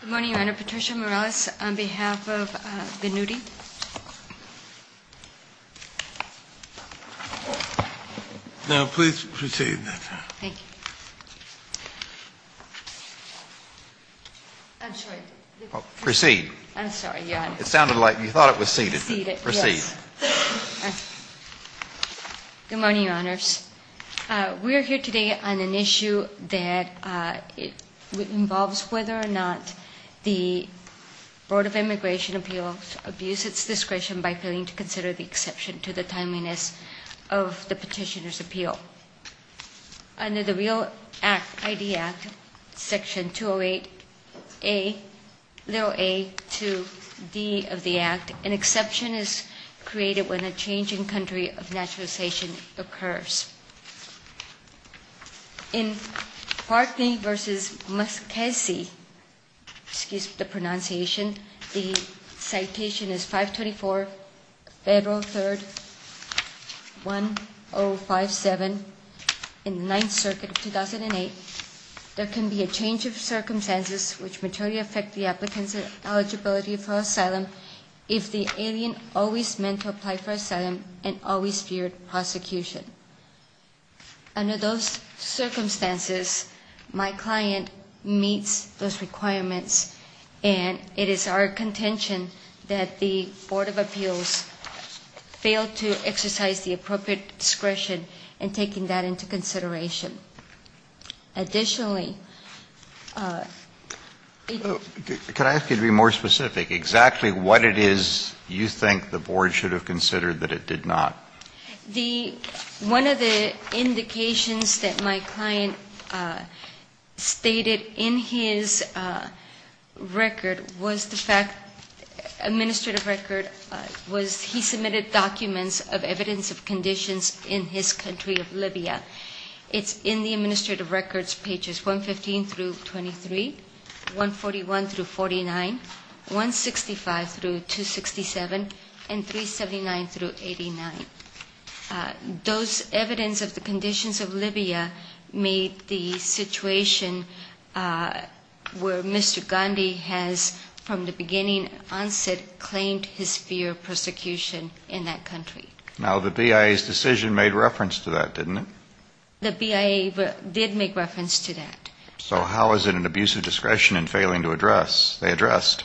Good morning, Your Honor. Patricia Morales on behalf of Ghannudi. Now, please proceed, ma'am. Thank you. I'm sorry. Proceed. I'm sorry, Your Honor. It sounded like you thought it was seated. Seated, yes. Proceed. Good morning, Your Honors. We are here today on an issue that involves whether or not the Board of Immigration Appeals abuse its discretion by failing to consider the exception to the timeliness of the petitioner's appeal. Under the REAL ID Act, Section 208A-A to D of the Act, an exception is created when a change in country of naturalization occurs. In Parkney v. Muskesee, excuse the pronunciation, the citation is 524 Federal 3rd, 1057, in the 9th Circuit of 2008, there can be a change of circumstances which materially affect the applicant's eligibility for asylum if the alien always meant to apply for asylum and always feared prosecution. Under those circumstances, my client meets those requirements, and it is our contention that the Board of Appeals failed to exercise the appropriate discretion in taking that into consideration. Additionally... Can I ask you to be more specific? Exactly what it is you think the Board should have considered that it did not? One of the indications that my client stated in his record was the fact, administrative record, was he submitted documents of evidence of conditions in his country of Libya. It's in the administrative records, pages 115-23, 141-49, 165-267, and 379-89. Those evidence of the conditions of Libya made the situation where Mr. Gandhi has, from the beginning, onset claimed his fear of prosecution in that country. Now, the BIA's decision made reference to that, didn't it? The BIA did make reference to that. So how is it an abuse of discretion in failing to address? They addressed.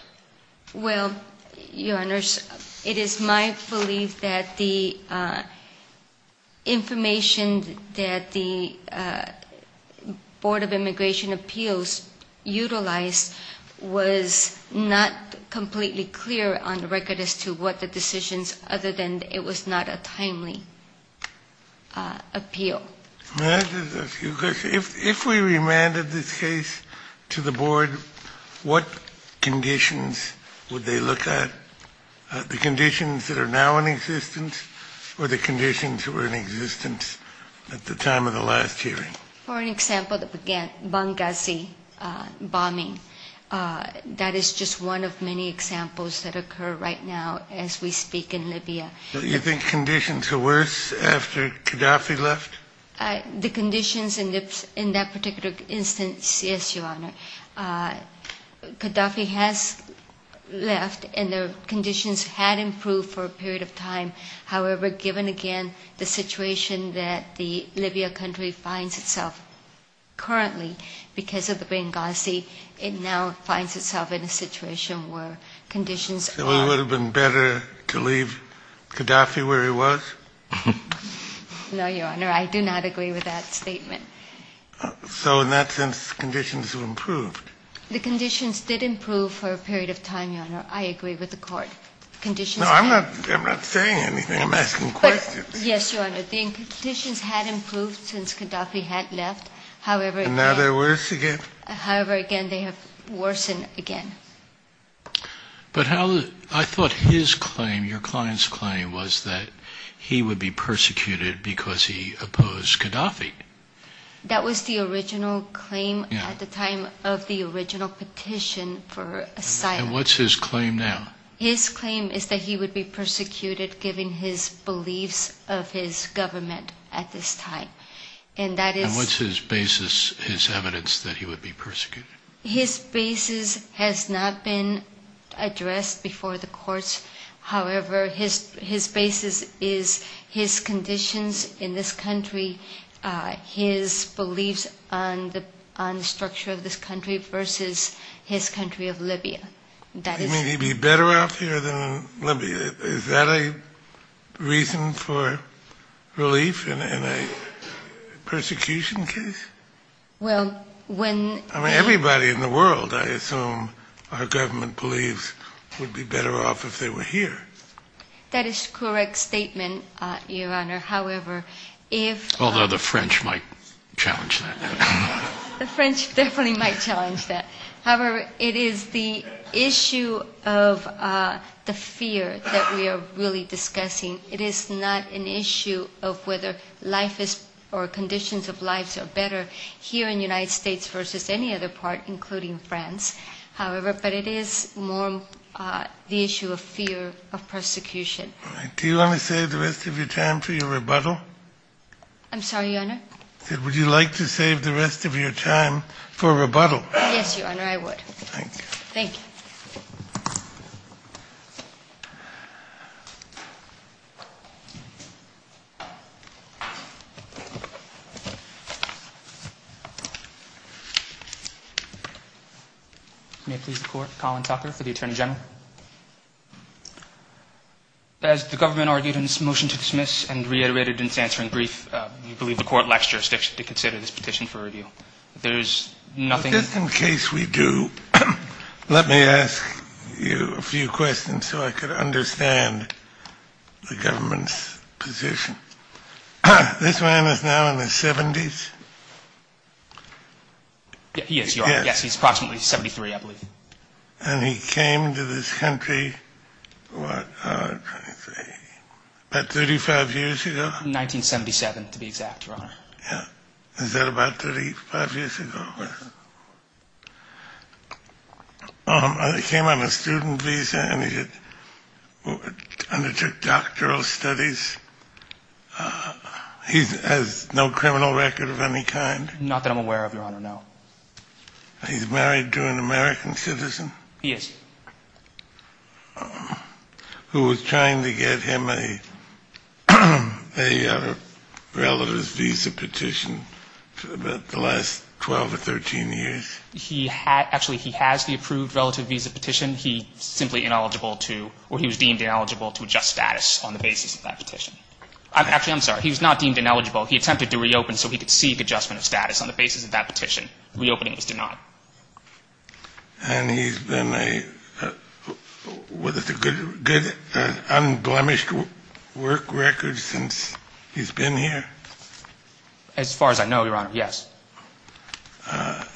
Well, Your Honors, it is my belief that the information that the Board of Immigration Appeals utilized was not completely clear on the record as to what the decisions, other than it was not a timely appeal. May I just ask you a question? If we remanded this case to the Board, what conditions would they look at? The conditions that are now in existence, or the conditions that were in existence at the time of the last hearing? For an example, the Benghazi bombing. That is just one of many examples that occur right now as we speak in Libya. So you think conditions are worse after Qaddafi left? The conditions in that particular instance, yes, Your Honor. Qaddafi has left, and the conditions had improved for a period of time. However, given again the situation that the Libya country finds itself currently because of the Benghazi, it now finds itself in a situation where conditions are worse. So it would have been better to leave Qaddafi where he was? No, Your Honor. I do not agree with that statement. So in that sense, conditions have improved? The conditions did improve for a period of time, Your Honor. I agree with the Court. Conditions have improved. No, I'm not saying anything. I'm asking questions. Yes, Your Honor. The conditions had improved since Qaddafi had left. However, again... And now they're worse again? However, again, they have worsened again. But I thought his claim, your client's claim, was that he would be persecuted because he opposed Qaddafi. That was the original claim at the time of the original petition for asylum. And what's his claim now? His claim is that he would be persecuted given his beliefs of his government at this time. And what's his basis, his evidence that he would be persecuted? His basis has not been addressed before the courts. However, his basis is his conditions in this country, his beliefs on the structure of this country versus his country of Libya. You mean he'd be better off here than in Libya? Is that a reason for relief in a persecution case? Well, when... I mean, everybody in the world, I assume, our government believes would be better off if they were here. That is correct statement, Your Honor. However, if... Although the French might challenge that. The French definitely might challenge that. However, it is the issue of the fear that we are really discussing. It is not an issue of whether life is... or conditions of lives are better here in the United States versus any other part, including France. However, but it is more the issue of fear of persecution. Do you want to save the rest of your time for your rebuttal? I'm sorry, Your Honor? Would you like to save the rest of your time for rebuttal? Yes, Your Honor, I would. Thank you. Thank you. May it please the Court. Colin Tucker for the Attorney General. As the government argued in its motion to dismiss and reiterated in its answering brief, we believe the Court lacks jurisdiction to consider this petition for review. There is nothing... This man is now in his 70s? Yes, Your Honor. Yes, he is approximately 73, I believe. And he came to this country, what, about 35 years ago? 1977, to be exact, Your Honor. Yes. He came on a student visa and he undertook doctoral studies. He has no criminal record of any kind? Not that I'm aware of, Your Honor, no. He's married to an American citizen? Yes. Who was trying to get him a relative's visa petition for the last 12 or 13 years? Actually, he has the approved relative visa petition. He was deemed ineligible to adjust status on the basis of that petition. Actually, I'm sorry, he was not deemed ineligible. He attempted to reopen so he could seek adjustment of status on the basis of that petition. Reopening was denied. And he's been with a good, unblemished work record since he's been here? As far as I know, Your Honor, yes.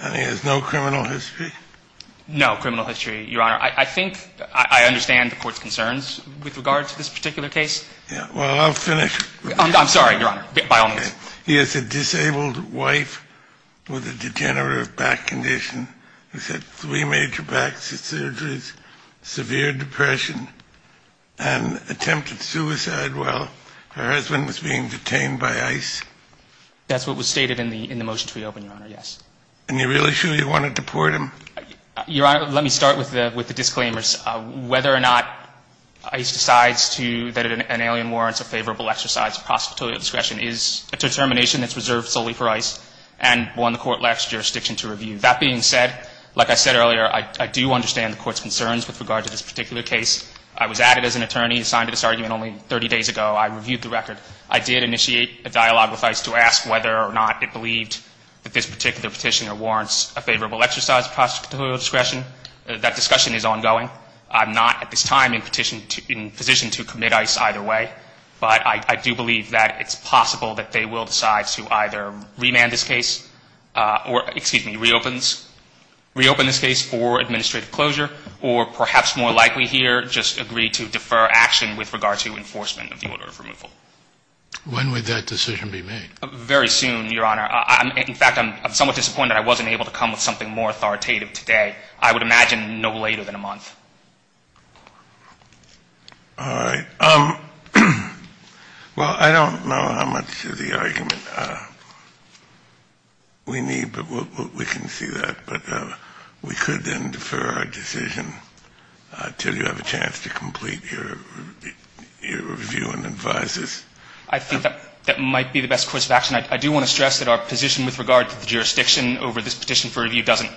And he has no criminal history? No criminal history, Your Honor. I think I understand the court's concerns with regard to this particular case. Well, I'll finish. I'm sorry, Your Honor, by all means. He has a disabled wife with a degenerative back condition. He's had three major back surgeries, severe depression, and attempted suicide while her husband was being detained by ICE. That's what was stated in the motion to reopen, Your Honor, yes. And you're really sure you want to deport him? Your Honor, let me start with the disclaimers. Whether or not ICE decides that an alien warrants a favorable exercise of prosecutorial discretion is a determination that's reserved solely for ICE and one the court lacks jurisdiction to review. That being said, like I said earlier, I do understand the court's concerns with regard to this particular case. I was added as an attorney assigned to this argument only 30 days ago. I reviewed the record. I did initiate a dialogue with ICE to ask whether or not it believed that this particular petitioner warrants a favorable exercise of prosecutorial discretion. That discussion is ongoing. I'm not at this time in position to commit ICE either way. But I do believe that it's possible that they will decide to either remand this case or, excuse me, reopen this case for administrative closure or perhaps more likely here just agree to defer action with regard to enforcement of the order of removal. When would that decision be made? Very soon, Your Honor. In fact, I'm somewhat disappointed I wasn't able to come with something more authoritative today. I would imagine no later than a month. All right. Well, I don't know how much of the argument we need, but we can see that. But we could then defer our decision until you have a chance to complete your review and advise us. I think that might be the best course of action. I do want to stress that our position with regard to the jurisdiction over this petition for review doesn't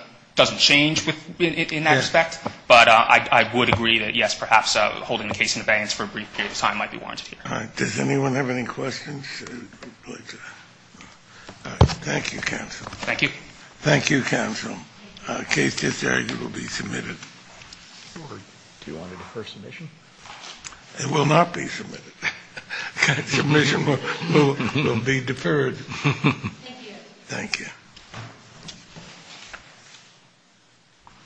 change in that respect. Yes. But I would agree that, yes, perhaps holding the case in abeyance for a brief period of time might be warranted here. All right. Does anyone have any questions? Thank you, counsel. Thank you. Thank you, counsel. Case just argued will be submitted. Do you want to defer submission? It will not be submitted. Submission will be deferred. Thank you. Thank you.